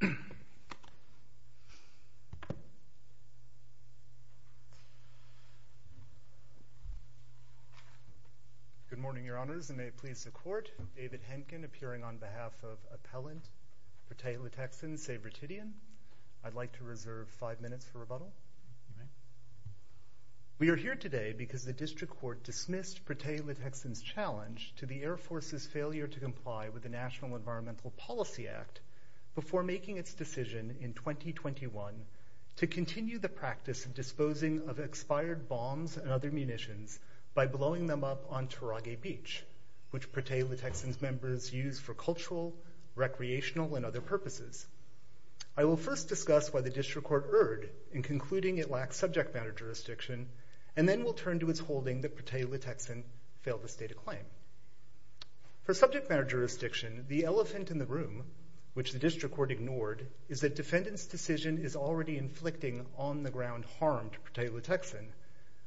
Good morning, Your Honors, and may it please the Court, David Henkin, appearing on behalf of Appellant Prutehi Litekyan, Save Ritidian, I'd like to reserve five minutes for rebuttal. We are here today because the District Court dismissed Prutehi Litekyan's challenge to the Air Force's failure to comply with the National Environmental Policy Act before making its decision in 2021 to continue the practice of disposing of expired bombs and other munitions by blowing them up on Turage Beach, which Prutehi Litekyan's members use for cultural, recreational, and other purposes. I will first discuss why the District Court erred in concluding it lacks subject matter For subject matter jurisdiction, the elephant in the room, which the District Court ignored, is that defendant's decision is already inflicting on the ground harm to Prutehi Litekyan,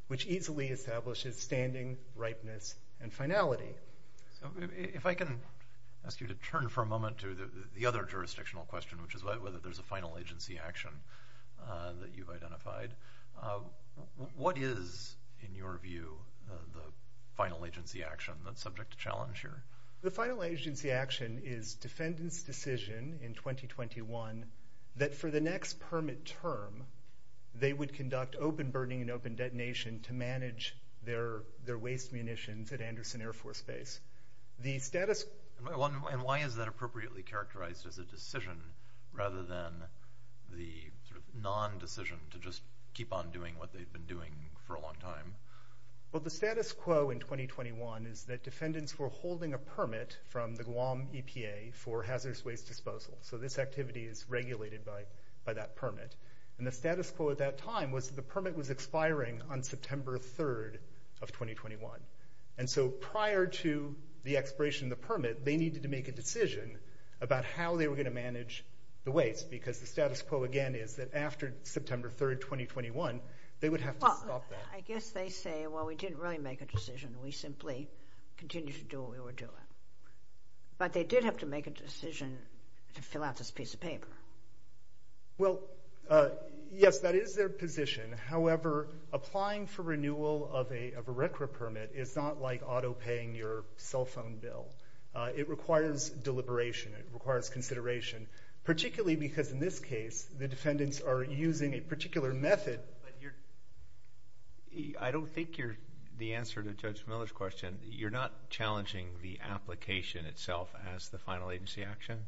which easily establishes standing, ripeness, and finality. If I can ask you to turn for a moment to the other jurisdictional question, which is whether there's a final agency action that you've identified, what is, in your view, the final agency action? The final agency action is defendant's decision in 2021 that for the next permit term, they would conduct open burning and open detonation to manage their waste munitions at Anderson Air Force Base. And why is that appropriately characterized as a decision rather than the non-decision to just keep on doing what they've been doing for a long time? Well, the status quo in 2021 is that defendants were holding a permit from the Guam EPA for hazardous waste disposal. So this activity is regulated by that permit. And the status quo at that time was that the permit was expiring on September 3rd of 2021. And so prior to the expiration of the permit, they needed to make a decision about how they were going to manage the waste, because the status quo again is that after September 3rd, 2021, they would have to stop that. I guess they say, well, we didn't really make a decision. We simply continued to do what we were doing. But they did have to make a decision to fill out this piece of paper. Well, yes, that is their position. However, applying for renewal of a RECRA permit is not like auto paying your cell phone bill. It requires deliberation. It requires consideration, particularly because in this case, the defendants are using a particular method. But I don't think you're the answer to Judge Miller's question. You're not challenging the application itself as the final agency action.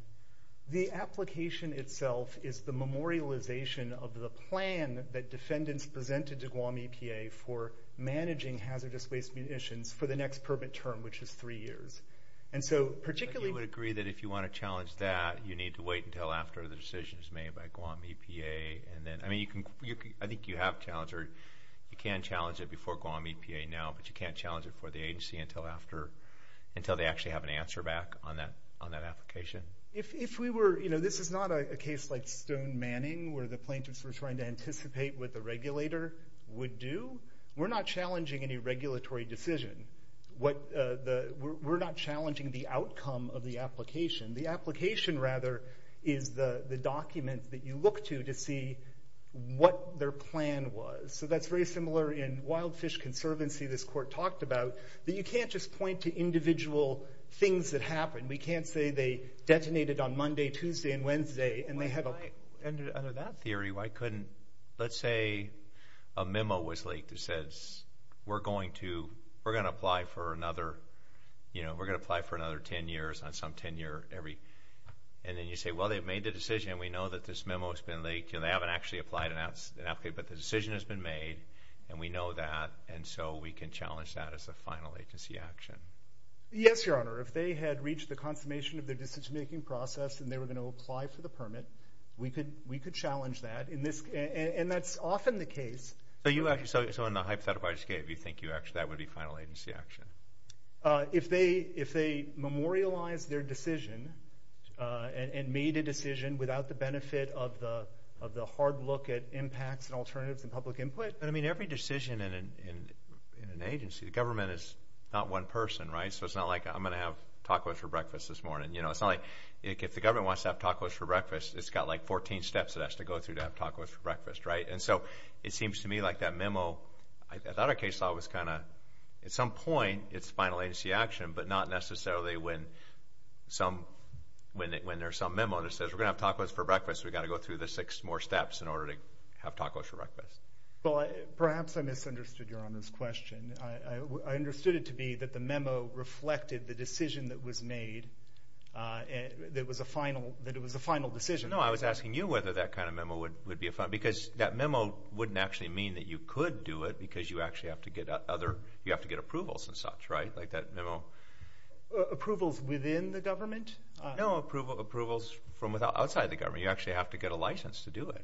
The application itself is the memorialization of the plan that defendants presented to Guam EPA for managing hazardous waste munitions for the next permit term, which is three years. And so particularly, you would agree that if you want to challenge that, you need to wait until after the decision is made by Guam EPA. I think you have challenged, or you can challenge it before Guam EPA now, but you can't challenge it for the agency until they actually have an answer back on that application. If we were, you know, this is not a case like Stone Manning, where the plaintiffs were trying to anticipate what the regulator would do. We're not challenging any regulatory decision. We're not challenging the outcome of the application. The application, rather, is the document that you look to, to see what their plan was. So that's very similar in Wild Fish Conservancy, this court talked about, that you can't just point to individual things that happened. We can't say they detonated on Monday, Tuesday, and Wednesday, and they had a- Under that theory, why couldn't, let's say, a memo was leaked that says, we're going to apply for another, you know, we're going to apply for another 10 years, on some 10-year-every, and then you say, well, they've made the decision, and we know that this memo's been leaked, and they haven't actually applied, but the decision has been made, and we know that, and so we can challenge that as a final agency action. Yes, Your Honor, if they had reached the consummation of their decision-making process, and they were going to apply for the permit, we could challenge that, and that's often the case. So you actually, so in the hypothetical I just gave, you think you actually, that would be final agency action? If they, if they memorialized their decision, and made a decision without the benefit of the, of the hard look at impacts and alternatives and public input- But I mean, every decision in an agency, the government is not one person, right, so it's not like, I'm going to have tacos for breakfast this morning, you know, it's not like, if the government wants to have tacos for breakfast, it's got like 14 steps it has to go through to have tacos for breakfast, right? And so, it seems to me like that memo, I thought it was kind of, at some point, it's final agency action, but not necessarily when some, when there's some memo that says, we're going to have tacos for breakfast, we've got to go through the six more steps in order to have tacos for breakfast. Well, perhaps I misunderstood Your Honor's question, I understood it to be that the memo reflected the decision that was made, that was a final, that it was a final decision. No, I was asking you whether that kind of memo would be a final, because that memo wouldn't actually mean that you could do it, because you actually have to get other, you have to get approvals and such, right, like that memo? Approvals within the government? No, approvals from outside the government, you actually have to get a license to do it.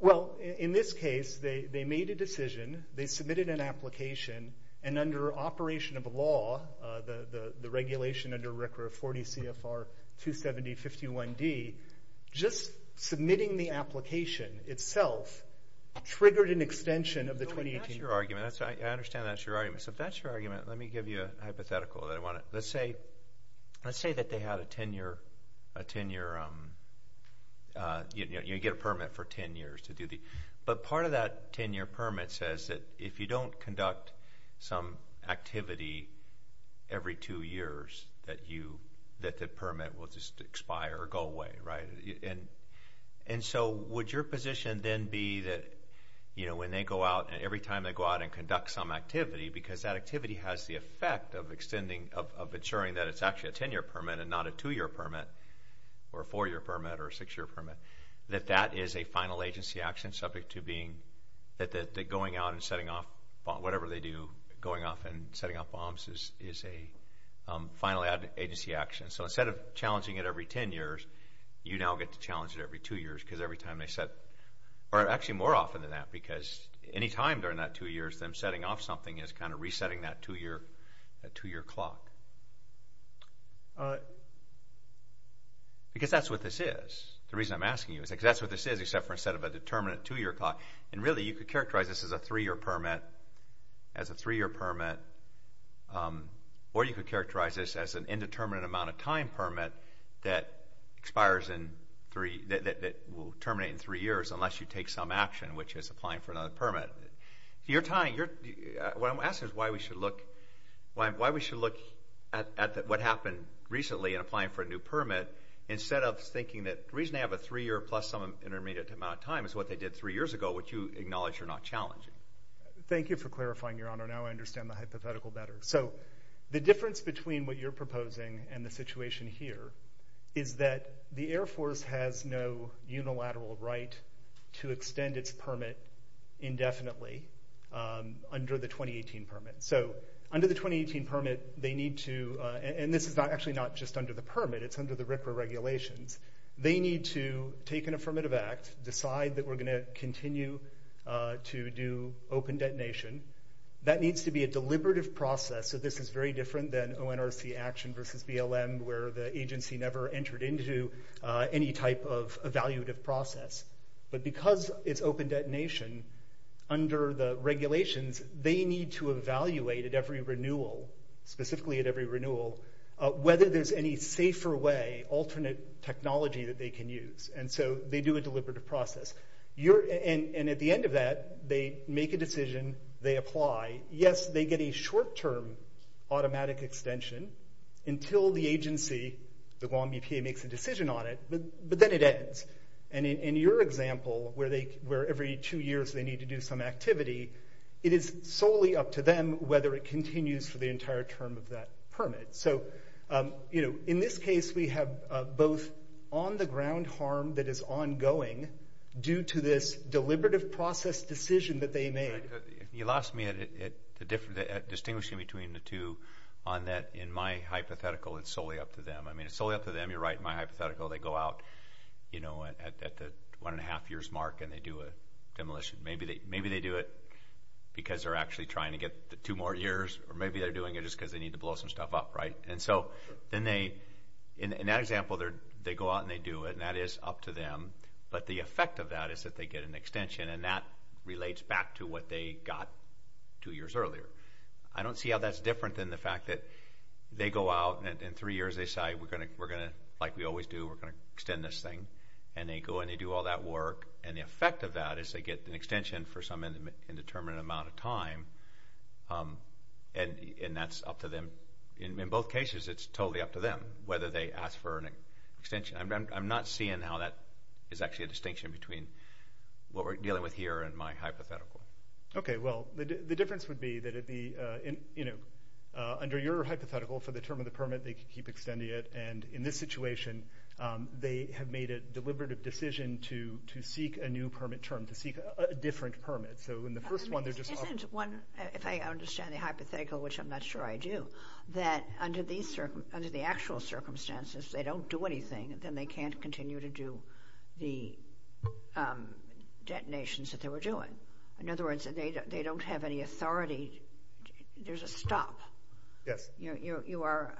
Well, in this case, they made a decision, they submitted an application, and under operation of the law, the regulation under RCRA 40 CFR 270.51d, just submitting the application itself triggered an extension of the 2018. That's your argument, I understand that's your argument, so if that's your argument, let me give you a hypothetical that I want to, let's say, let's say that they had a 10-year, a 10-year, you get a permit for 10 years to do the, but part of that 10-year permit says that if you don't conduct some activity every two years, that you, that the permit will just expire or go away, right, and so would your position then be that, you know, when they go out and every time they go out and conduct some activity, because that activity has the effect of extending, of ensuring that it's actually a 10-year permit and not a 2-year permit, or a 4-year permit, or a 6-year permit, that that is a final agency action subject to being, that going out and setting off, whatever they do, going off and setting off bombs is a final agency action, so instead of challenging it every 10 years, you now get to challenge it every 2 years, because every time they set, or actually more often than that, because any time during that 2 years, them setting off something is kind of resetting that 2-year, that 2-year clock. Because that's what this is, the reason I'm asking you, because that's what this is, except for instead of a determinate 2-year clock, and really you could characterize this as a 3-year permit, as a 3-year permit, or you could characterize this as an indeterminate amount of time permit that expires in 3, that will terminate in 3 years unless you take some action, which is applying for another permit. You're tying, you're, what I'm asking is why we should look, why we should look at what happened recently in applying for a new permit, instead of thinking that the reason they have a 3-year plus some intermediate amount of time is what they did 3 years ago, which you acknowledge are not challenging. Thank you for clarifying, Your Honor, now I understand the hypothetical better. So the difference between what you're proposing and the situation here is that the Air Force has no unilateral right to extend its permit indefinitely under the 2018 permit. So under the 2018 permit, they need to, and this is actually not just under the permit, it's under the RCRA regulations. They need to take an affirmative act, decide that we're going to continue to do open detonation. That needs to be a deliberative process, so this is very different than ONRC action versus BLM where the agency never entered into any type of evaluative process. But because it's open detonation, under the regulations, they need to evaluate at every technology that they can use, and so they do a deliberative process. And at the end of that, they make a decision, they apply, yes, they get a short-term automatic extension until the agency, the Guam EPA, makes a decision on it, but then it ends. And in your example, where every two years they need to do some activity, it is solely up to them whether it continues for the entire term of that permit. So in this case, we have both on-the-ground harm that is ongoing due to this deliberative process decision that they made. You lost me at distinguishing between the two on that, in my hypothetical, it's solely up to them. I mean, it's solely up to them, you're right, in my hypothetical, they go out at the one and a half years mark and they do a demolition. Maybe they do it because they're actually trying to get the two more years, or maybe they're doing it just because they need to blow some stuff up, right? And so, then they, in that example, they go out and they do it, and that is up to them, but the effect of that is that they get an extension, and that relates back to what they got two years earlier. I don't see how that's different than the fact that they go out, and in three years they say, we're going to, like we always do, we're going to extend this thing. And they go and they do all that work, and the effect of that is they get an extension for some indeterminate amount of time, and that's up to them. In both cases, it's totally up to them whether they ask for an extension. I'm not seeing how that is actually a distinction between what we're dealing with here and my hypothetical. Okay, well, the difference would be that it'd be, you know, under your hypothetical, for the term of the permit, they could keep extending it, and in this situation, they have made a deliberative decision to seek a new permit term, to seek a different permit. So in the first one, they're just offering... I mean, isn't one, if I understand the hypothetical, which I'm not sure I do, that under the actual circumstances, they don't do anything, then they can't continue to do the detonations that they were doing? In other words, they don't have any authority, there's a stop. Yes. You are,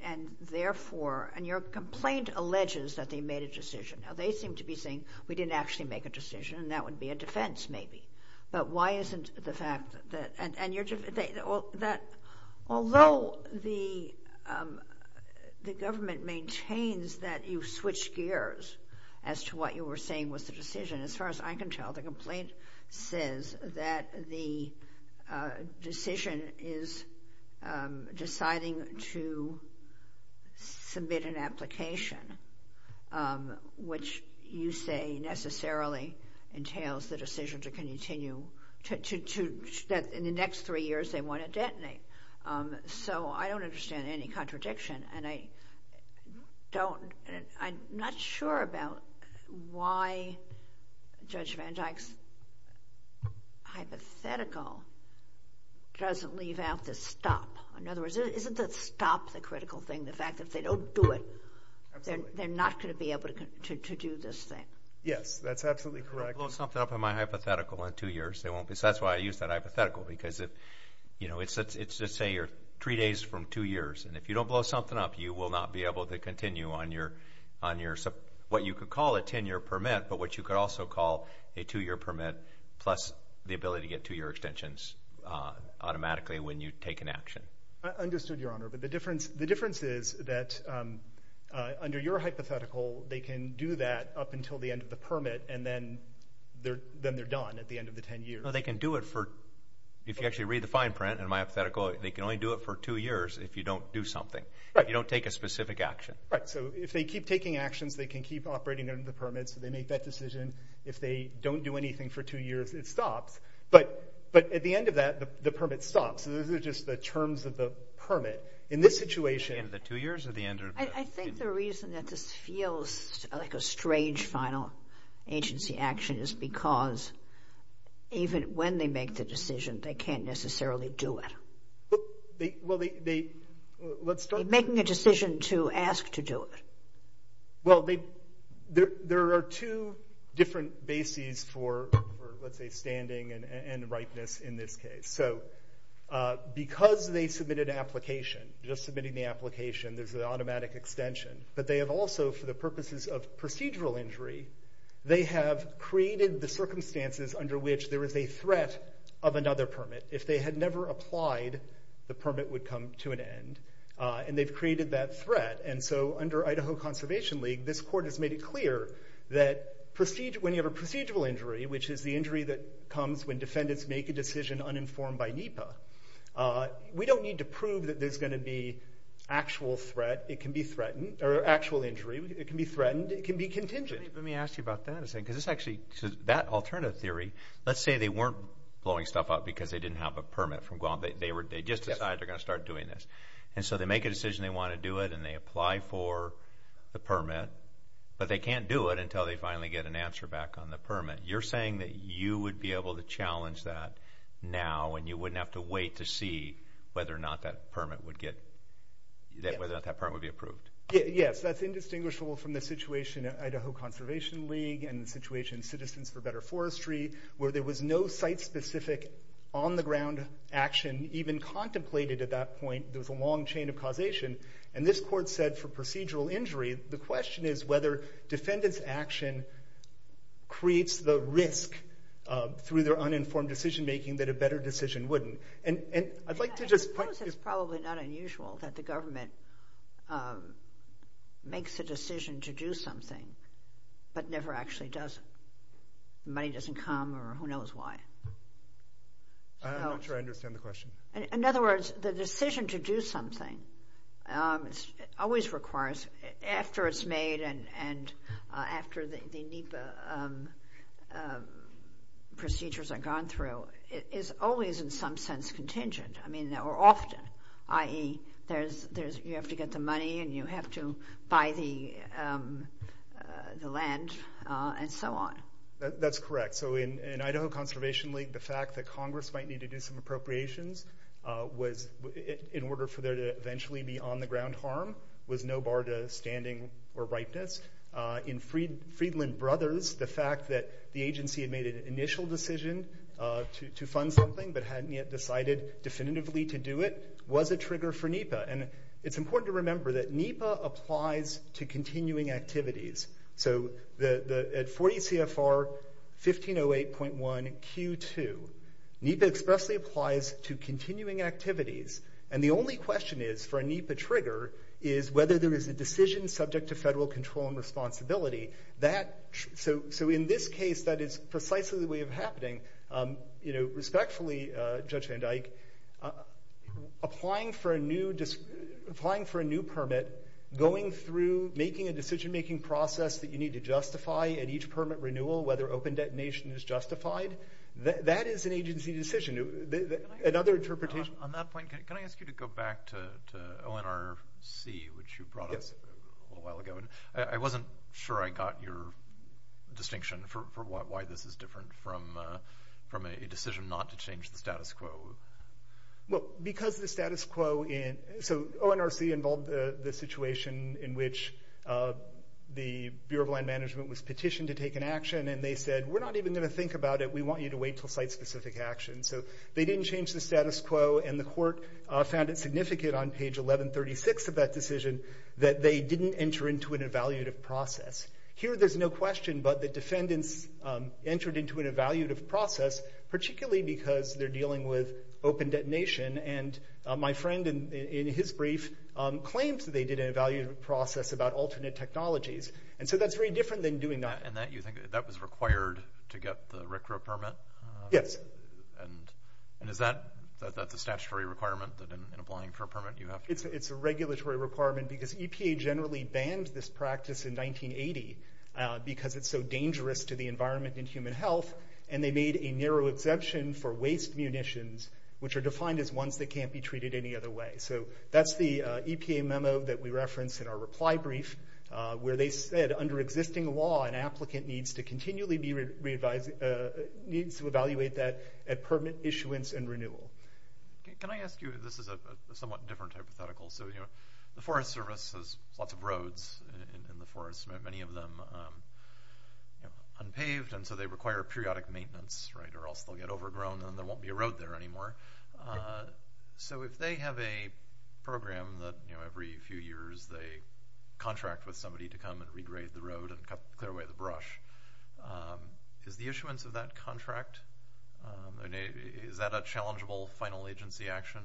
and therefore, and your complaint alleges that they made a decision. Now, they seem to be saying, we didn't actually make a decision, and that would be a defense, maybe. But why isn't the fact that... Although the government maintains that you switched gears as to what you were saying was the decision, as far as I can tell, the complaint says that the decision is deciding to submit an application, which you say necessarily entails the decision to continue, that in the next three years, they want to detonate. So I don't understand any contradiction, and I don't... I'm not sure about why Judge Van Dyke's hypothetical doesn't leave out the stop. In other words, isn't the stop the critical thing, the fact that if they don't do it, they're not going to be able to do this thing? Yes, that's absolutely correct. They'll blow something up in my hypothetical in two years. They won't be... So that's why I use that hypothetical, because it's just, say, three days from two years, and if you don't blow something up, you will not be able to continue on your, what you could call a 10-year permit, but what you could also call a two-year permit, plus the ability to get two-year extensions automatically when you take an action. I understood, Your Honor, but the difference is that under your hypothetical, they can do that up until the end of the permit, and then they're done at the end of the 10 years. No, they can do it for... If you actually read the fine print in my hypothetical, they can only do it for two years if you don't do something, if you don't take a specific action. Right, so if they keep taking actions, they can keep operating under the permit, so they make that decision. If they don't do anything for two years, it stops. But at the end of that, the permit stops, so those are just the terms of the permit. In this situation... At the end of the two years or the end of the... I think the reason that this feels like a strange final agency action is because even when they make the decision, they can't necessarily do it. Well, they... Let's start... They're making a decision to ask to do it. Well, there are two different bases for, let's say, standing and ripeness in this case. So because they submitted an application, just submitting the application, there's an automatic extension, but they have also, for the purposes of procedural injury, they have created the circumstances under which there is a threat of another permit. If they had never applied, the permit would come to an end, and they've created that threat. And so under Idaho Conservation League, this court has made it clear that when you have a procedural injury, which is the injury that comes when defendants make a decision uninformed, uninformed by NEPA, we don't need to prove that there's going to be actual threat. It can be threatened... Or actual injury. It can be threatened. It can be contingent. Let me ask you about that. Because it's actually... That alternative theory, let's say they weren't blowing stuff up because they didn't have a permit from Guam. They were... They just decided they're going to start doing this. And so they make a decision they want to do it, and they apply for the permit. But they can't do it until they finally get an answer back on the permit. You're saying that you would be able to challenge that now, and you wouldn't have to wait to see whether or not that permit would get... Whether or not that permit would be approved. Yes. That's indistinguishable from the situation at Idaho Conservation League, and the situation in Citizens for Better Forestry, where there was no site-specific, on-the-ground action even contemplated at that point. There was a long chain of causation. And this court said for procedural injury, the question is whether defendant's action creates the risk, through their uninformed decision-making, that a better decision wouldn't. And I'd like to just... I suppose it's probably not unusual that the government makes a decision to do something, but never actually does it. Money doesn't come, or who knows why. I'm not sure I understand the question. In other words, the decision to do something always requires, after it's made, and after the NEPA procedures are gone through, is always in some sense contingent, or often, i.e. you have to get the money, and you have to buy the land, and so on. That's correct. So, in Idaho Conservation League, the fact that Congress might need to do some appropriations, in order for there to eventually be on-the-ground harm, was no bar to standing or ripeness. In Friedland Brothers, the fact that the agency had made an initial decision to fund something, but hadn't yet decided definitively to do it, was a trigger for NEPA. And it's important to remember that NEPA applies to continuing activities. So, at 40 CFR 1508.1Q2, NEPA expressly applies to continuing activities. And the only question is, for a NEPA trigger, is whether there is a decision subject to federal control and responsibility. So, in this case, that is precisely the way of happening. You know, respectfully, Judge Van Dyke, applying for a new permit, going through, making a decision-making process that you need to justify, and each permit renewal, whether open detonation is justified, that is an agency decision. Another interpretation... On that point, can I ask you to go back to ONRC, which you brought up a little while ago? I wasn't sure I got your distinction for why this is different from a decision not to change the status quo. Well, because the status quo... So, ONRC involved the situation in which the Bureau of Land Management was petitioned to take an action, and they said, we're not even going to think about it. We want you to wait until site-specific action. So, they didn't change the status quo, and the court found it significant on page 1136 of that decision that they didn't enter into an evaluative process. Here, there's no question, but the defendants entered into an evaluative process, particularly because they're dealing with open detonation. And my friend, in his brief, claims that they did an evaluative process about alternate technologies. And so, that's very different than doing nothing. And you think that was required to get the RCRA permit? Yes. And is that the statutory requirement that, in applying for a permit, you have to... It's a regulatory requirement because EPA generally banned this practice in 1980 because it's so dangerous to the environment and human health, and they made a narrow exemption for waste munitions, which are defined as ones that can't be treated any other way. So, that's the EPA memo that we referenced in our reply brief, where they said, under existing law, an applicant needs to continually be re-advised, needs to evaluate that at permit issuance and renewal. Can I ask you, this is a somewhat different hypothetical, so, you know, the Forest Service has lots of roads in the forest, many of them unpaved, and so they require periodic maintenance, right, or else they'll get overgrown and there won't be a road there anymore. So, if they have a program that, you know, every few years, they contract with somebody to come and regrade the road and clear away the brush, is the issuance of that contract... Is that a challengeable final agency action,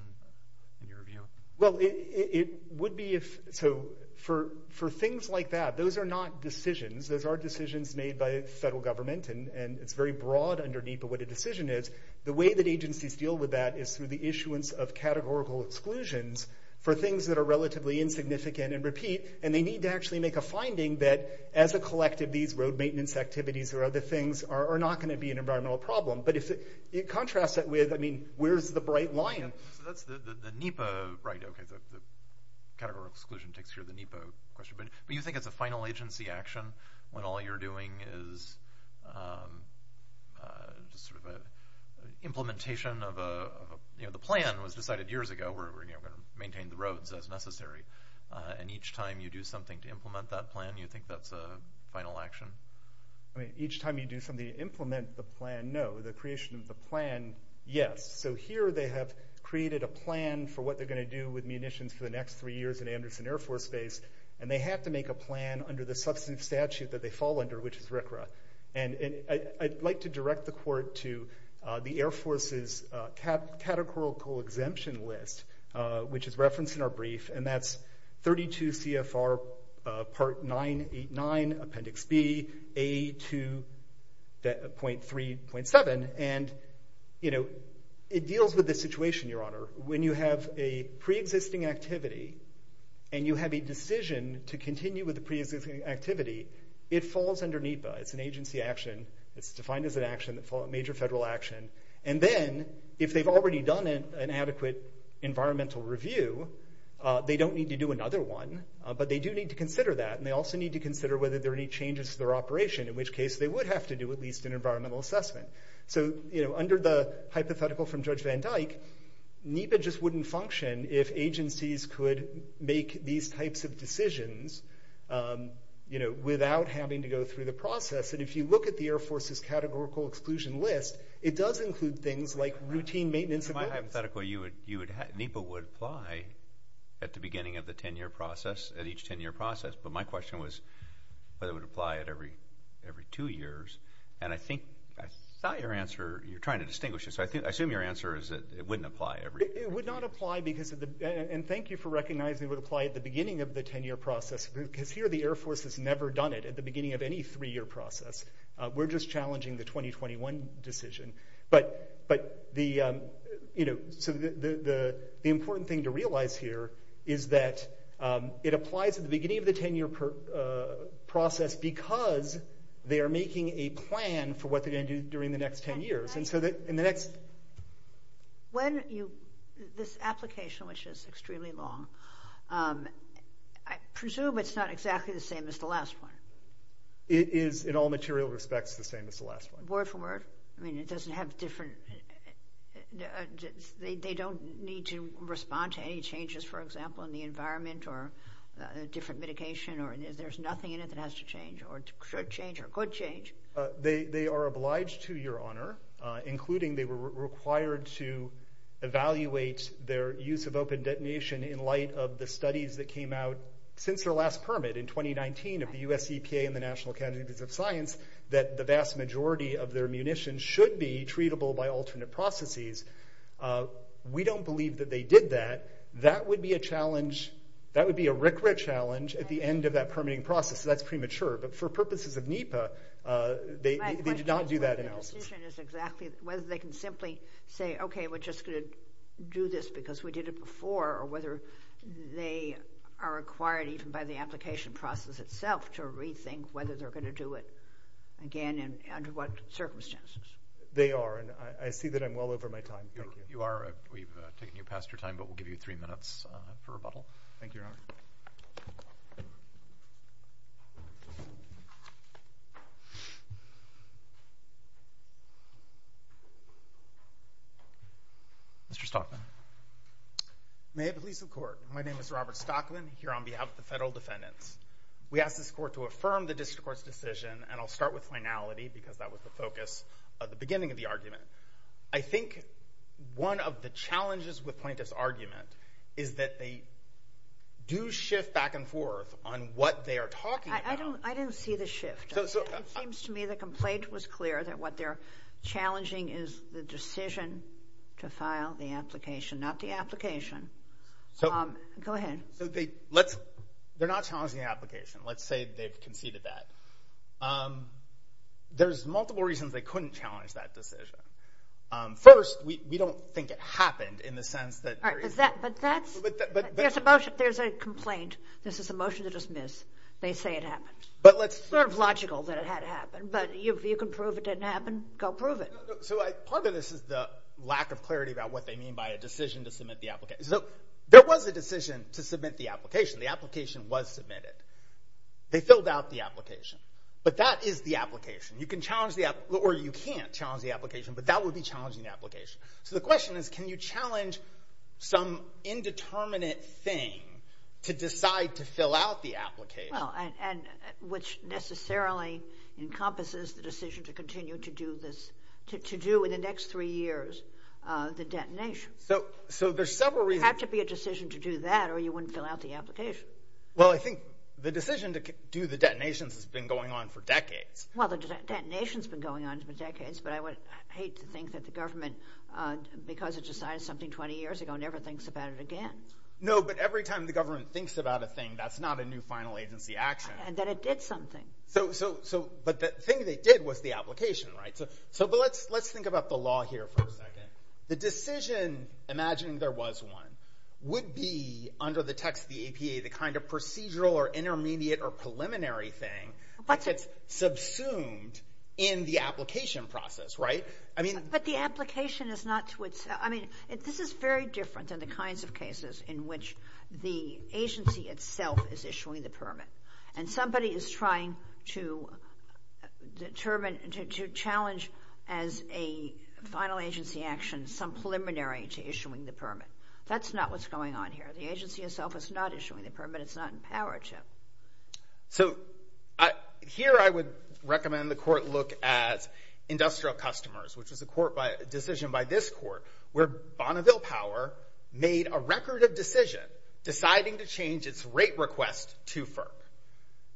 in your view? Well, it would be if... So, for things like that, those are not decisions. Those are decisions made by federal government, and it's very broad underneath of what a decision is. The way that agencies deal with that is through the issuance of categorical exclusions for things that are relatively insignificant and repeat, and they need to actually make a finding that, as a collective, these road maintenance activities or other things are not going to be an environmental problem. But if you contrast that with, I mean, where's the Bright Lion? So that's the NEPA... Right, OK, the categorical exclusion takes care of the NEPA question. But you think it's a final agency action when all you're doing is... sort of an implementation of a... You know, the plan was decided years ago, we're going to maintain the roads as necessary, and each time you do something to implement that plan, you think that's a final action? I mean, each time you do something to implement the plan, no. The creation of the plan, yes. So here they have created a plan for what they're going to do with munitions for the next three years in Anderson Air Force Base, and they have to make a plan under the substantive statute that they fall under, which is RCRA, and I'd like to direct the court to the Air Force's categorical exemption list, which is referenced in our brief, and that's 32 CFR Part 989, Appendix B, A2.3.7, and, you know, it deals with this situation, Your Honour. When you have a pre-existing activity and you have a decision to continue with the pre-existing activity, it falls under NEPA. It's an agency action. It's defined as a major federal action, and then if they've already done an adequate environmental review, they don't need to do another one, but they do need to consider that, and they also need to consider whether there are any changes to their operation, in which case they would have to do at least an environmental assessment. So, you know, under the hypothetical from Judge Van Dyck, NEPA just wouldn't function if agencies could make these types of decisions, you know, without having to go through the process, and if you look at the Air Force's categorical exclusion list, it does include things like routine maintenance of weapons. In my hypothetical, NEPA would apply at the beginning of the 10-year process, at each 10-year process, but my question was whether it would apply at every two years, and I think I saw your answer. You're trying to distinguish it, so I assume your answer is that it wouldn't apply every two years. It would not apply because of the— and thank you for recognizing it would apply at the beginning of the 10-year process, because here the Air Force has never done it, at the beginning of any three-year process. We're just challenging the 2021 decision, but the important thing to realize here is that it applies at the beginning of the 10-year process because they are making a plan for what they're going to do during the next 10 years, and so in the next— When you—this application, which is extremely long, I presume it's not exactly the same as the last one. It is, in all material respects, the same as the last one. Word for word? I mean, it doesn't have different— they don't need to respond to any changes, for example, in the environment or different mitigation, or there's nothing in it that has to change or should change or could change? They are obliged to, Your Honor, including they were required to evaluate their use of open detonation in light of the studies that came out since their last permit in 2019 of the U.S. EPA and the National Academy of Science, that the vast majority of their munitions should be treatable by alternate processes. We don't believe that they did that. That would be a challenge. That would be a RCRA challenge at the end of that permitting process, so that's premature, but for purposes of NEPA, they did not do that analysis. My question is exactly whether they can simply say, okay, we're just going to do this because we did it before, or whether they are required, even by the application process itself, to rethink whether they're going to do it again and under what circumstances. They are, and I see that I'm well over my time. Thank you. You are. We've taken you past your time, but we'll give you three minutes for rebuttal. Thank you, Your Honor. Mr. Stockman. May it please the Court. My name is Robert Stockman, here on behalf of the federal defendants. We ask this Court to affirm the district court's decision, and I'll start with finality, because that was the focus at the beginning of the argument. I think one of the challenges with plaintiff's argument is that they do shift back and forth on what they are talking about. I didn't see the shift. It seems to me the complaint was clear that what they're challenging is the decision to file the application, not the application. Go ahead. They're not challenging the application. Let's say they've conceded that. There's multiple reasons they couldn't challenge that decision. First, we don't think it happened in the sense that there is. There's a complaint. This is a motion to dismiss. They say it happened. It's sort of logical that it had happened, but if you can prove it didn't happen, go prove it. Part of this is the lack of clarity about what they mean by a decision to submit the application. There was a decision to submit the application. The application was submitted. They filled out the application. But that is the application. You can challenge the application, or you can't challenge the application, but that would be challenging the application. So the question is, can you challenge some indeterminate thing to decide to fill out the application? Which necessarily encompasses the decision to continue to do in the next three years the detonation. So there's several reasons. It had to be a decision to do that, or you wouldn't fill out the application. Well, I think the decision to do the detonations has been going on for decades. Well, the detonations have been going on for decades, but I would hate to think that the government, because it decided something 20 years ago, never thinks about it again. No, but every time the government thinks about a thing, that's not a new final agency action. And that it did something. But the thing they did was the application, right? But let's think about the law here for a second. The decision, imagining there was one, would be under the text of the APA the kind of procedural or intermediate or preliminary thing that gets subsumed in the application process, right? But the application is not to itself. This is very different than the kinds of cases in which the agency itself is issuing the permit. And somebody is trying to determine, to challenge as a final agency action some preliminary to issuing the permit. That's not what's going on here. The agency itself is not issuing the permit. It's not in power to. So here I would recommend the court look at industrial customers, which is a decision by this court, where Bonneville Power made a record of decision deciding to change its rate request to FERC.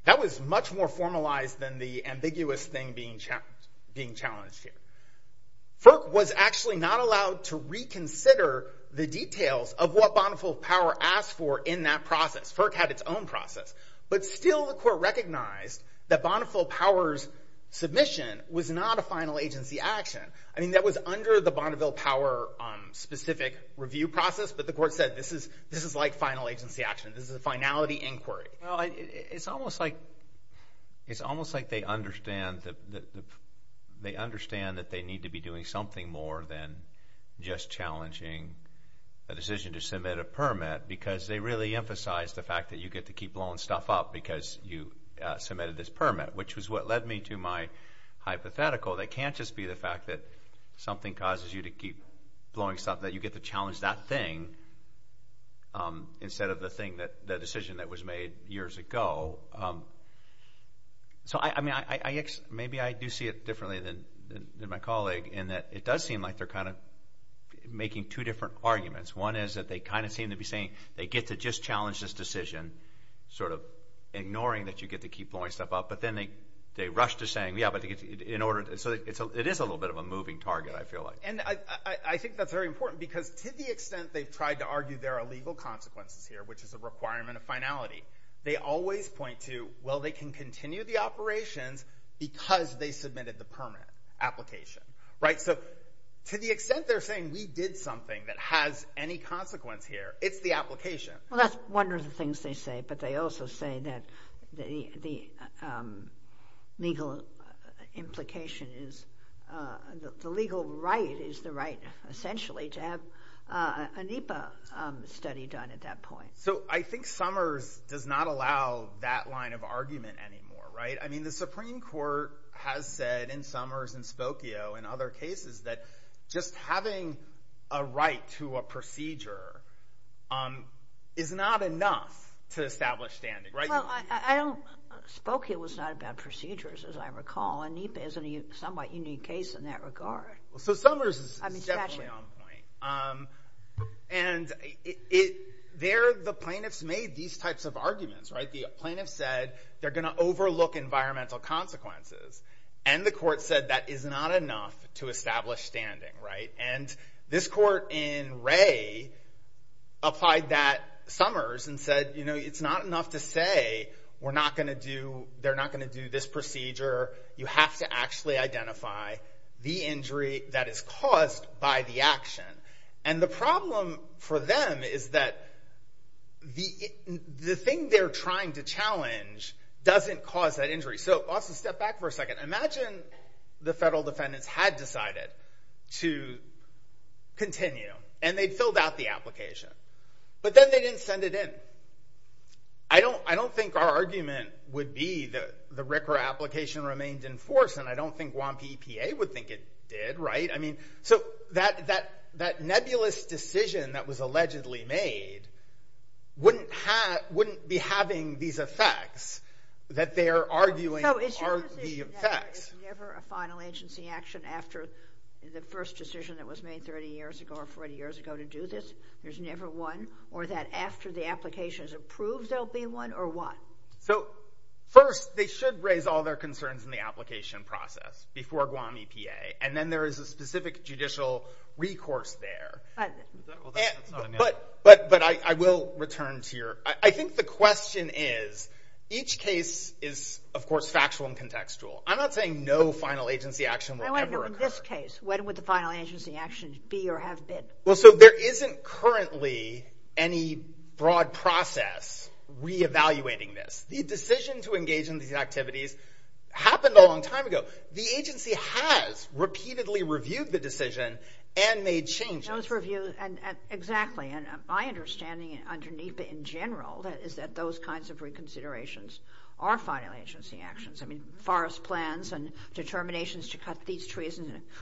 That was much more formalized than the ambiguous thing being challenged here. FERC was actually not allowed to reconsider the details of what Bonneville Power asked for in that process. FERC had its own process. But still the court recognized that Bonneville Power's submission was not a final agency action. I mean, that was under the Bonneville Power specific review process, but the court said this is like final agency action. This is a finality inquiry. Well, it's almost like they understand that they need to be doing something more than just challenging a decision to submit a permit because they really emphasize the fact that you get to keep blowing stuff up because you submitted this permit, which was what led me to my hypothetical that can't just be the fact that something causes you to keep blowing stuff up, that you get to challenge that thing instead of the decision that was made years ago. So, I mean, maybe I do see it differently than my colleague in that it does seem like they're kind of making two different arguments. One is that they kind of seem to be saying they get to just challenge this decision, sort of ignoring that you get to keep blowing stuff up, but then they rush to saying, yeah, so it is a little bit of a moving target, I feel like. And I think that's very important because to the extent they've tried to argue there are legal consequences here, which is a requirement of finality, they always point to, well, they can continue the operations because they submitted the permit application, right? So to the extent they're saying we did something that has any consequence here, it's the application. Well, that's one of the things they say, but they also say that the legal implication is, the legal right is the right, essentially, to have a NEPA study done at that point. So I think Summers does not allow that line of argument anymore, right? I mean, the Supreme Court has said, in Summers and Spokio and other cases, that just having a right to a procedure is not enough to establish standing, right? Well, Spokio was not about procedures, as I recall, and NEPA is a somewhat unique case in that regard. So Summers is definitely on point. And the plaintiffs made these types of arguments, right? The plaintiffs said they're gonna overlook environmental consequences, and the court said that is not enough to establish standing, right? And this court in Wray applied that, Summers, and said, you know, it's not enough to say we're not gonna do, they're not gonna do this procedure. You have to actually identify the injury that is caused by the action. And the problem for them is that the thing they're trying to challenge doesn't cause that injury. So, Austin, step back for a second. Imagine the federal defendants had decided to continue, and they'd filled out the application, but then they didn't send it in. I don't think our argument would be that the RCRA application remained in force, and I don't think Guam PPA would think it did, right? I mean, so that nebulous decision that was allegedly made wouldn't be having these effects, that they're arguing are the effects. There's never a final agency action after the first decision that was made 30 years ago or 40 years ago to do this? There's never one? Or that after the application is approved, there'll be one, or what? So, first, they should raise all their concerns in the application process before Guam PPA, and then there is a specific judicial recourse there. But I will return to your... I think the question is, each case is, of course, factual and contextual. I'm not saying no final agency action will ever occur. I want to know, in this case, when would the final agency action be or have been? Well, so there isn't currently any broad process re-evaluating this. The decision to engage in these activities happened a long time ago. The agency has repeatedly reviewed the decision and made changes. Those reviews, and exactly, and my understanding underneath it in general is that those kinds of reconsiderations are final agency actions. I mean, forest plans and determinations to cut these trees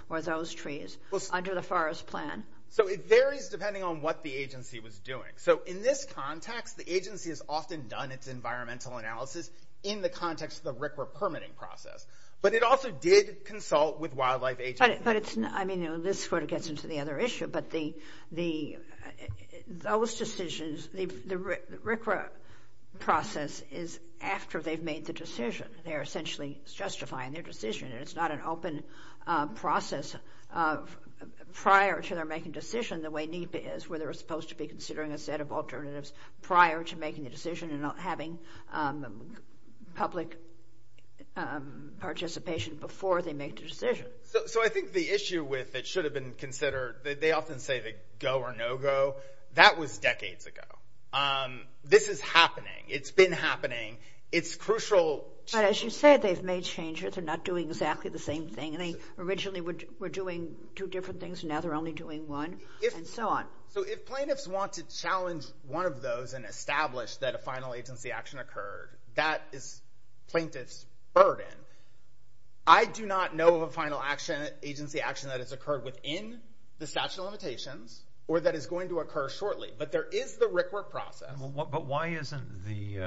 or those trees under the forest plan. So it varies depending on what the agency was doing. So in this context, the agency has often done its environmental analysis in the context of the RCRA permitting process. But it also did consult with wildlife agencies. I mean, this sort of gets into the other issue, but those decisions, the RCRA process is after they've made the decision. They're essentially justifying their decision, and it's not an open process. Prior to their making a decision, the way NEPA is, where they're supposed to be considering a set of alternatives prior to making a decision and not having public participation before they make the decision. So I think the issue with it should have been considered, they often say the go or no go. That was decades ago. This is happening. It's been happening. It's crucial. But as you said, they've made changes. They're not doing exactly the same thing. They originally were doing two different things, and now they're only doing one, and so on. So if plaintiffs want to challenge one of those and establish that a final agency action occurred, that is plaintiff's burden. I do not know of a final agency action that has occurred within the statute of limitations or that is going to occur shortly, but there is the RCRA process. But why isn't the...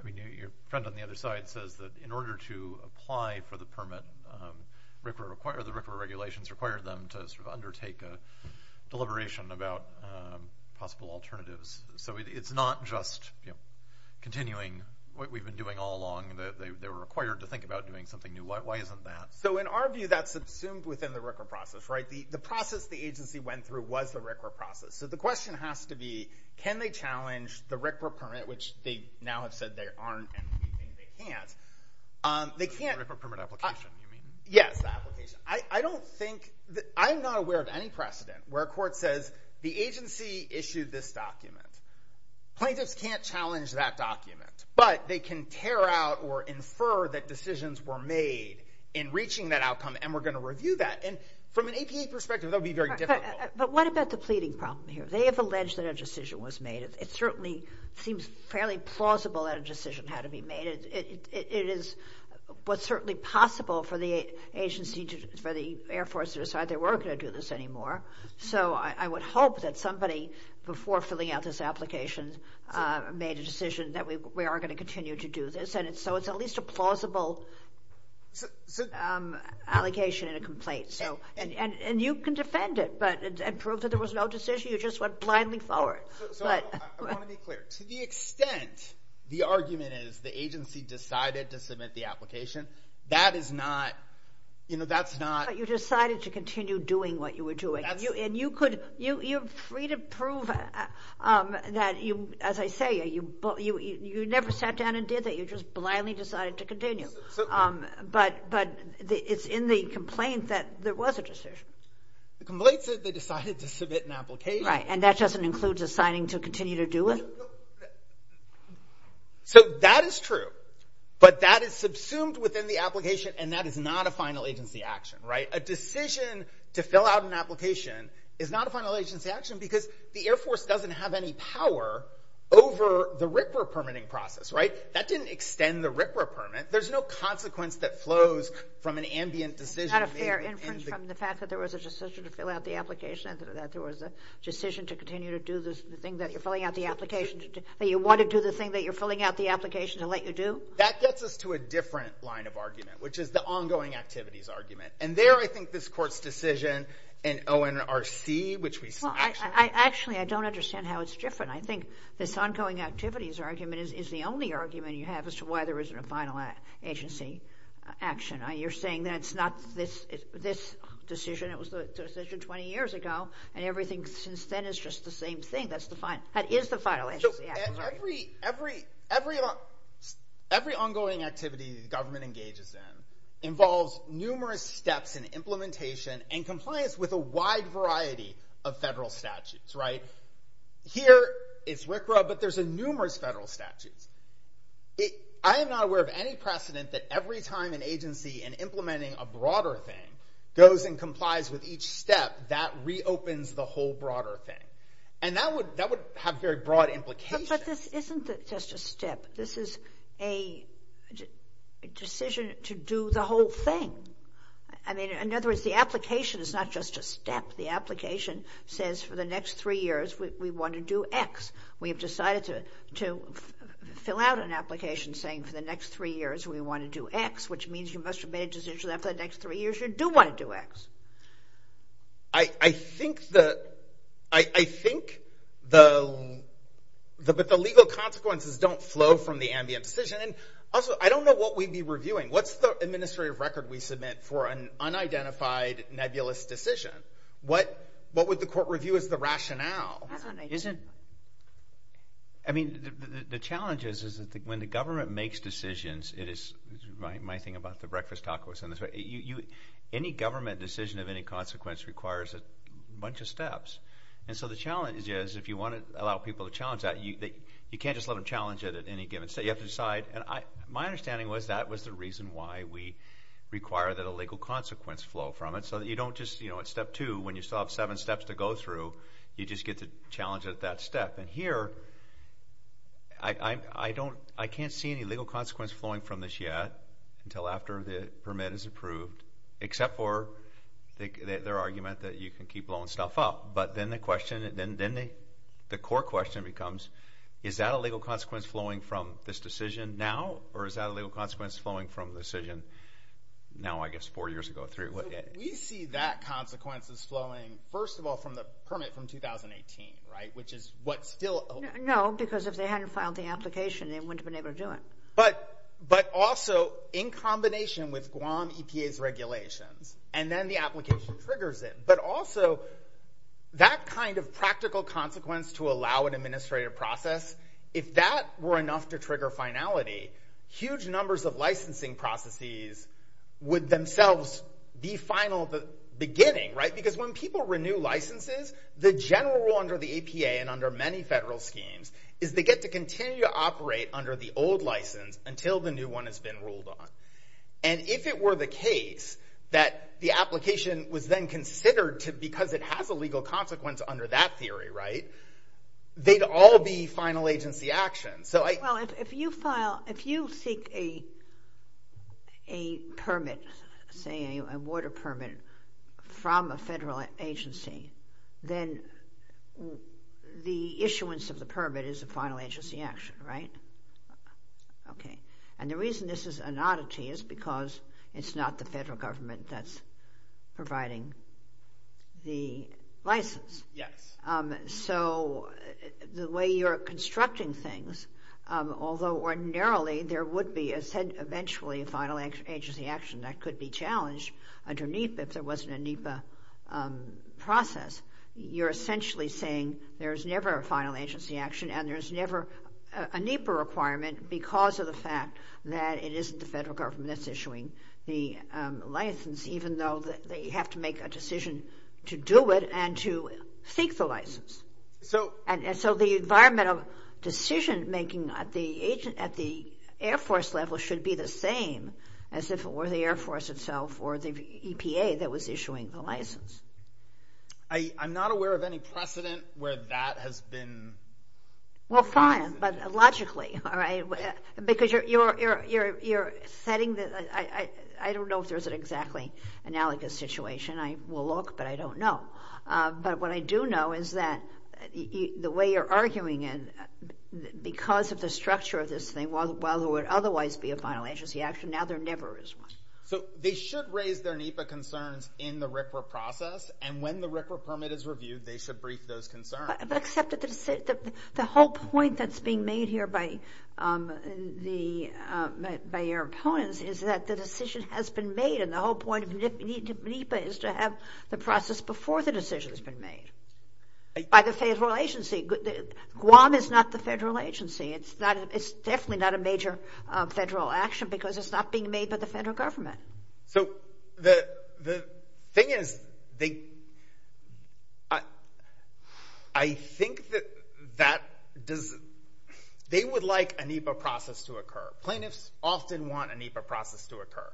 I mean, your friend on the other side says that in order to apply for the permit, the RCRA regulations require them to sort of undertake a deliberation about possible alternatives. So it's not just continuing what we've been doing all along. They were required to think about doing something new. Why isn't that? So in our view, that's subsumed within the RCRA process. The process the agency went through was the RCRA process. So the question has to be, can they challenge the RCRA permit, which they now have said they aren't, and we think they can't. The RCRA permit application, you mean? Yes, the application. I don't think... I'm not aware of any precedent where a court says, the agency issued this document. Plaintiffs can't challenge that document, but they can tear out or infer that decisions were made in reaching that outcome, and we're going to review that. And from an APA perspective, that would be very difficult. But what about the pleading problem here? They have alleged that a decision was made. It certainly seems fairly plausible that a decision had to be made. It is what's certainly possible for the agency, for the Air Force to decide they weren't going to do this anymore. So I would hope that somebody, before filling out this application, made a decision that we are going to continue to do this, and so it's at least a plausible allegation and a complaint. And you can defend it and prove that there was no decision. You just went blindly forward. I want to be clear. To the extent the argument is the agency decided to submit the application, that is not... But you decided to continue doing what you were doing. And you're free to prove that, as I say, you never sat down and did that. You just blindly decided to continue. But it's in the complaint that there was a decision. The complaint said they decided to submit an application. Right. And that doesn't include deciding to continue to do it? So that is true. But that is subsumed within the application, and that is not a final agency action, right? A decision to fill out an application is not a final agency action because the Air Force doesn't have any power over the RCRA permitting process, right? That didn't extend the RCRA permit. There's no consequence that flows from an ambient decision. Not a fair inference from the fact that there was a decision to fill out the application and that there was a decision to continue to do the thing that you're filling out the application to do. That you want to do the thing that you're filling out the application to let you do? That gets us to a different line of argument, which is the ongoing activities argument. And there, I think, this Court's decision in ONRC, which we... Well, actually, I don't understand how it's different. I think this ongoing activities argument is the only argument you have as to why there isn't a final agency action. You're saying that it's not this decision. It was the decision 20 years ago, and everything since then is just the same thing. That is the final agency action. Every ongoing activity the government engages in involves numerous steps in implementation and compliance with a wide variety of federal statutes, right? Here, it's RCRA, but there's numerous federal statutes. I am not aware of any precedent that every time an agency in implementing a broader thing goes and complies with each step, that reopens the whole broader thing. And that would have very broad implications. But this isn't just a step. This is a decision to do the whole thing. I mean, in other words, the application is not just a step. The application says, for the next three years, we want to do X. We have decided to fill out an application saying, for the next three years, we want to do X, which means you must have made a decision that, for the next three years, you do want to do X. I think the legal consequences don't flow from the ambient decision. Also, I don't know what we'd be reviewing. What's the administrative record we submit for an unidentified nebulous decision? What would the court review as the rationale? I mean, the challenge is that when the government makes decisions, it is my thing about the breakfast tacos. Any government decision of any consequence requires a bunch of steps. And so the challenge is, if you want to allow people to challenge that, you can't just let them challenge it at any given step. You have to decide. My understanding was that was the reason why we require that a legal consequence flow from it, so that you don't just, at step two, when you still have seven steps to go through, you just get to challenge it at that step. And here, I can't see any legal consequence flowing from this yet, until after the permit is approved, except for their argument that you can keep blowing stuff up. But then the core question becomes, is that a legal consequence flowing from this decision now, or is that a legal consequence flowing from the decision now, I guess, four years ago? We see that consequence as flowing, first of all, from the permit from 2018, which is what's still— No, because if they hadn't filed the application, they wouldn't have been able to do it. But also, in combination with Guam EPA's regulations, and then the application triggers it, but also that kind of practical consequence to allow an administrative process, if that were enough to trigger finality, huge numbers of licensing processes would themselves be final at the beginning, because when people renew licenses, the general rule under the EPA and under many federal schemes is they get to continue to operate under the old license until the new one has been ruled on. And if it were the case that the application was then considered because it has a legal consequence under that theory, they'd all be final agency action. Well, if you file—if you seek a permit, say a water permit from a federal agency, then the issuance of the permit is a final agency action, right? Okay. And the reason this is an oddity is because it's not the federal government that's providing the license. Yes. So the way you're constructing things, although ordinarily there would be eventually a final agency action that could be challenged under NEPA if there wasn't a NEPA process, you're essentially saying there's never a final agency action and there's never a NEPA requirement because of the fact that it isn't the federal government that's issuing the license, even though they have to make a decision to do it and to seek the license. And so the environmental decision-making at the Air Force level should be the same as if it were the Air Force itself or the EPA that was issuing the license. I'm not aware of any precedent where that has been— Well, fine, but logically, all right? Because you're setting the— I don't know if there's an exactly analogous situation. I will look, but I don't know. But what I do know is that the way you're arguing it, because of the structure of this thing, while there would otherwise be a final agency action, now there never is one. So they should raise their NEPA concerns in the RCRA process, and when the RCRA permit is reviewed, they should brief those concerns. Except that the whole point that's being made here by your opponents is that the decision has been made, and the whole point of NEPA is to have the process before the decision has been made by the federal agency. Guam is not the federal agency. It's definitely not a major federal action because it's not being made by the federal government. So the thing is, they— I think that that does— They would like a NEPA process to occur. Plaintiffs often want a NEPA process to occur.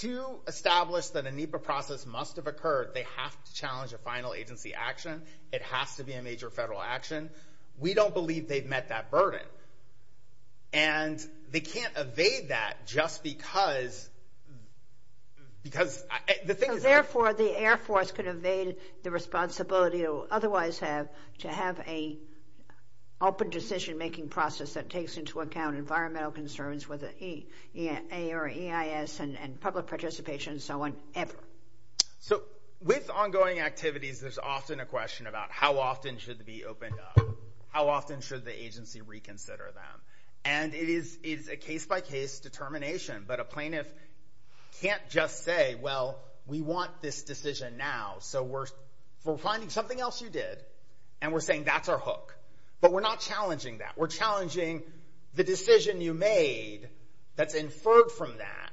To establish that a NEPA process must have occurred, they have to challenge a final agency action. It has to be a major federal action. We don't believe they've met that burden. And they can't evade that just because— Therefore, the Air Force could evade the responsibility it would otherwise have to have an open decision-making process that takes into account environmental concerns with the EIA or EIS and public participation and so on, ever. So with ongoing activities, there's often a question about how often should it be opened up? How often should the agency reconsider them? And it is a case-by-case determination, but a plaintiff can't just say, well, we want this decision now, so we're finding something else you did, and we're saying that's our hook. But we're not challenging that. We're challenging the decision you made that's inferred from that,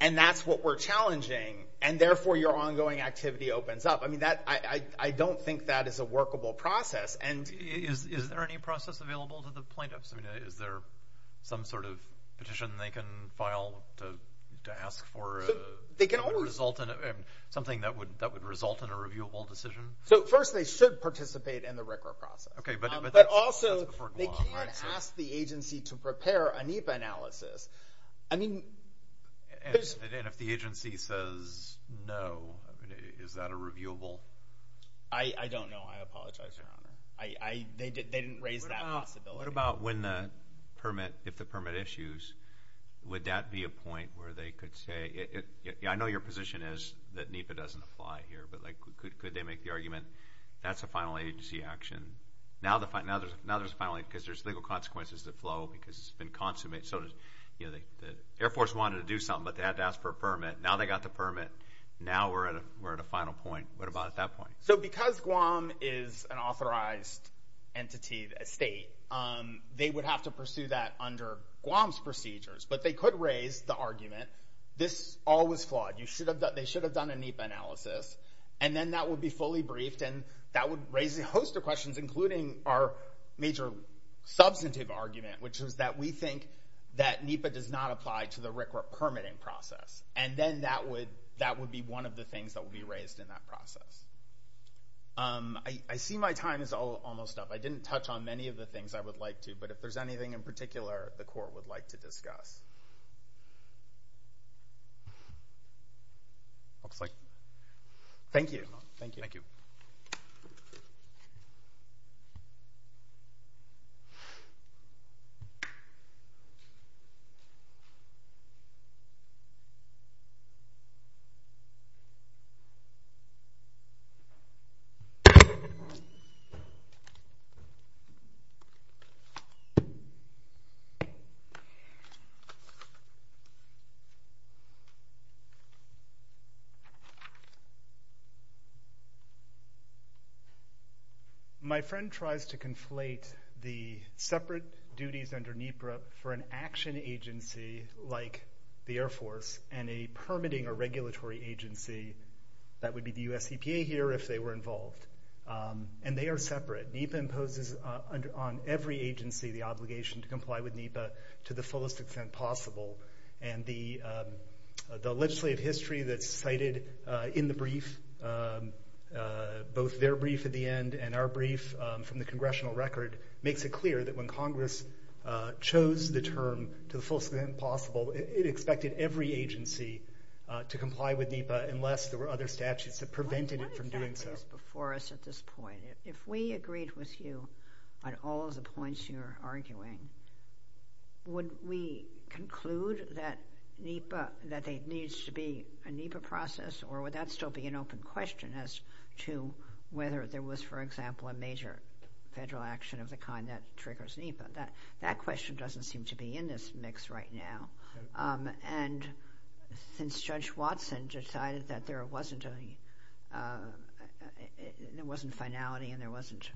and that's what we're challenging, and therefore your ongoing activity opens up. I don't think that is a workable process. Is there any process available to the plaintiffs? Is there some sort of petition they can file to ask for— They can always— —something that would result in a reviewable decision? First, they should participate in the RCRA process. Okay, but that's before Guam, right? But also, they can ask the agency to prepare a NEPA analysis. I mean, there's— And if the agency says no, is that a reviewable? I don't know. I apologize for that. They didn't raise that possibility. What about if the permit issues? Would that be a point where they could say— I know your position is that NEPA doesn't apply here, but could they make the argument that's a final agency action? Now there's a final— because there's legal consequences that flow because it's been consummated. The Air Force wanted to do something, but they had to ask for a permit. Now they got the permit. Now we're at a final point. What about at that point? So because Guam is an authorized entity, a state, they would have to pursue that under Guam's procedures. But they could raise the argument, this all was flawed. They should have done a NEPA analysis. And then that would be fully briefed, and that would raise a host of questions, including our major substantive argument, which is that we think that NEPA does not apply to the RCRA permitting process. And then that would be one of the things that would be raised in that process. I see my time is almost up. I didn't touch on many of the things I would like to, but if there's anything in particular the court would like to discuss. Thank you. My friend tries to conflate the separate duties under NEPA for an action agency like the Air Force and a permitting or regulatory agency that would be the US EPA here if they were involved. And they are separate. NEPA imposes on every agency the obligation to comply with NEPA to the fullest extent possible. And the legislative history that's cited in the brief, both their brief at the end and our brief from the congressional record, makes it clear that when Congress chose the term to the fullest extent possible, it expected every agency to comply with NEPA unless there were other statutes that prevented it from doing so. Why did that exist before us at this point? If we agreed with you on all of the points you're arguing, would we conclude that there needs to be a NEPA process or would that still be an open question as to whether there was, for example, a major federal action of the kind that triggers NEPA? That question doesn't seem to be in this mix right now. And since Judge Watson decided that there wasn't finality and there wasn't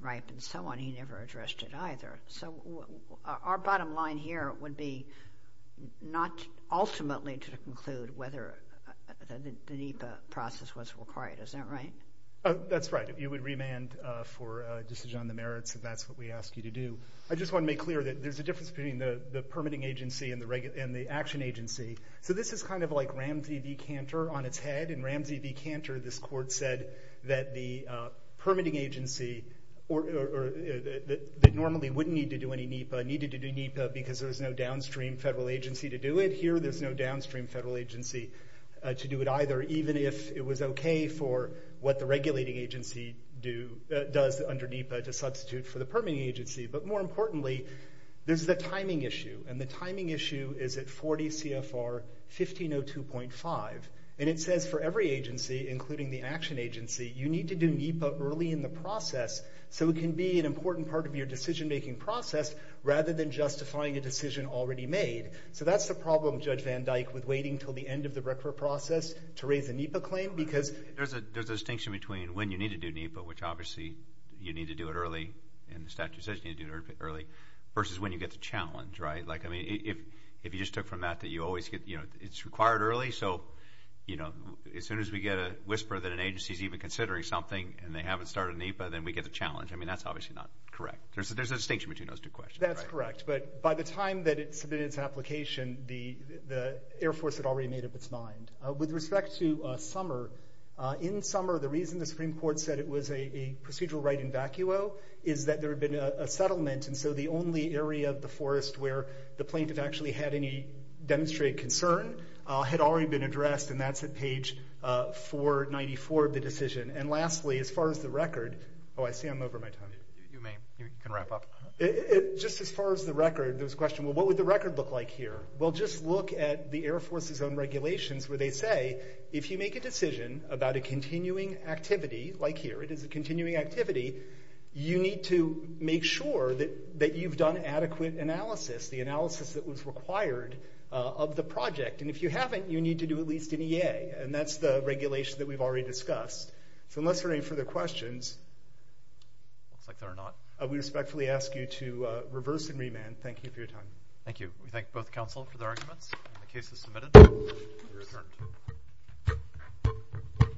ripe and so on, he never addressed it either. So our bottom line here would be not ultimately to conclude whether the NEPA process was required. Is that right? That's right. You would remand for a decision on the merits if that's what we ask you to do. I just want to make clear that there's a difference between the permitting agency and the action agency. So this is kind of like Ramsey v. Cantor on its head. In Ramsey v. Cantor, this court said that the permitting agency that normally wouldn't need to do any NEPA needed to do NEPA because there was no downstream federal agency to do it. Here there's no downstream federal agency to do it either, even if it was okay for what the regulating agency does under NEPA to substitute for the permitting agency. But more importantly, there's the timing issue, and the timing issue is at 40 CFR 1502.5. And it says for every agency, including the action agency, you need to do NEPA early in the process so it can be an important part of your decision-making process rather than justifying a decision already made. So that's the problem, Judge Van Dyke, with waiting until the end of the RECFA process to raise a NEPA claim because... There's a distinction between when you need to do NEPA, which obviously you need to do it early, and the statute says you need to do it early, versus when you get the challenge, right? Like, I mean, if you just took from that that you always get, you know, it's required early, so, you know, as soon as we get a whisper that an agency's even considering something and they haven't started NEPA, then we get the challenge. I mean, that's obviously not correct. There's a distinction between those two questions. That's correct, but by the time that it submitted its application, the Air Force had already made up its mind. With respect to Summer, in Summer, the reason the Supreme Court said it was a procedural right in vacuo is that there had been a settlement, and so the only area of the forest where the plaintiff actually had any demonstrated concern had already been addressed, and that's at page 494 of the decision. And lastly, as far as the record... Oh, I see I'm over my time. You can wrap up. Just as far as the record, there was a question, well, what would the record look like here? Well, just look at the Air Force's own regulations, where they say if you make a decision about a continuing activity, like here, it is a continuing activity, you need to make sure that you've done adequate analysis, the analysis that was required of the project. And if you haven't, you need to do at least an EA, and that's the regulation that we've already discussed. So unless there are any further questions... Looks like there are not. We respectfully ask you to reverse and remand. Thank you for your time. Thank you. We thank both counsel for their arguments. The case is submitted. We're adjourned.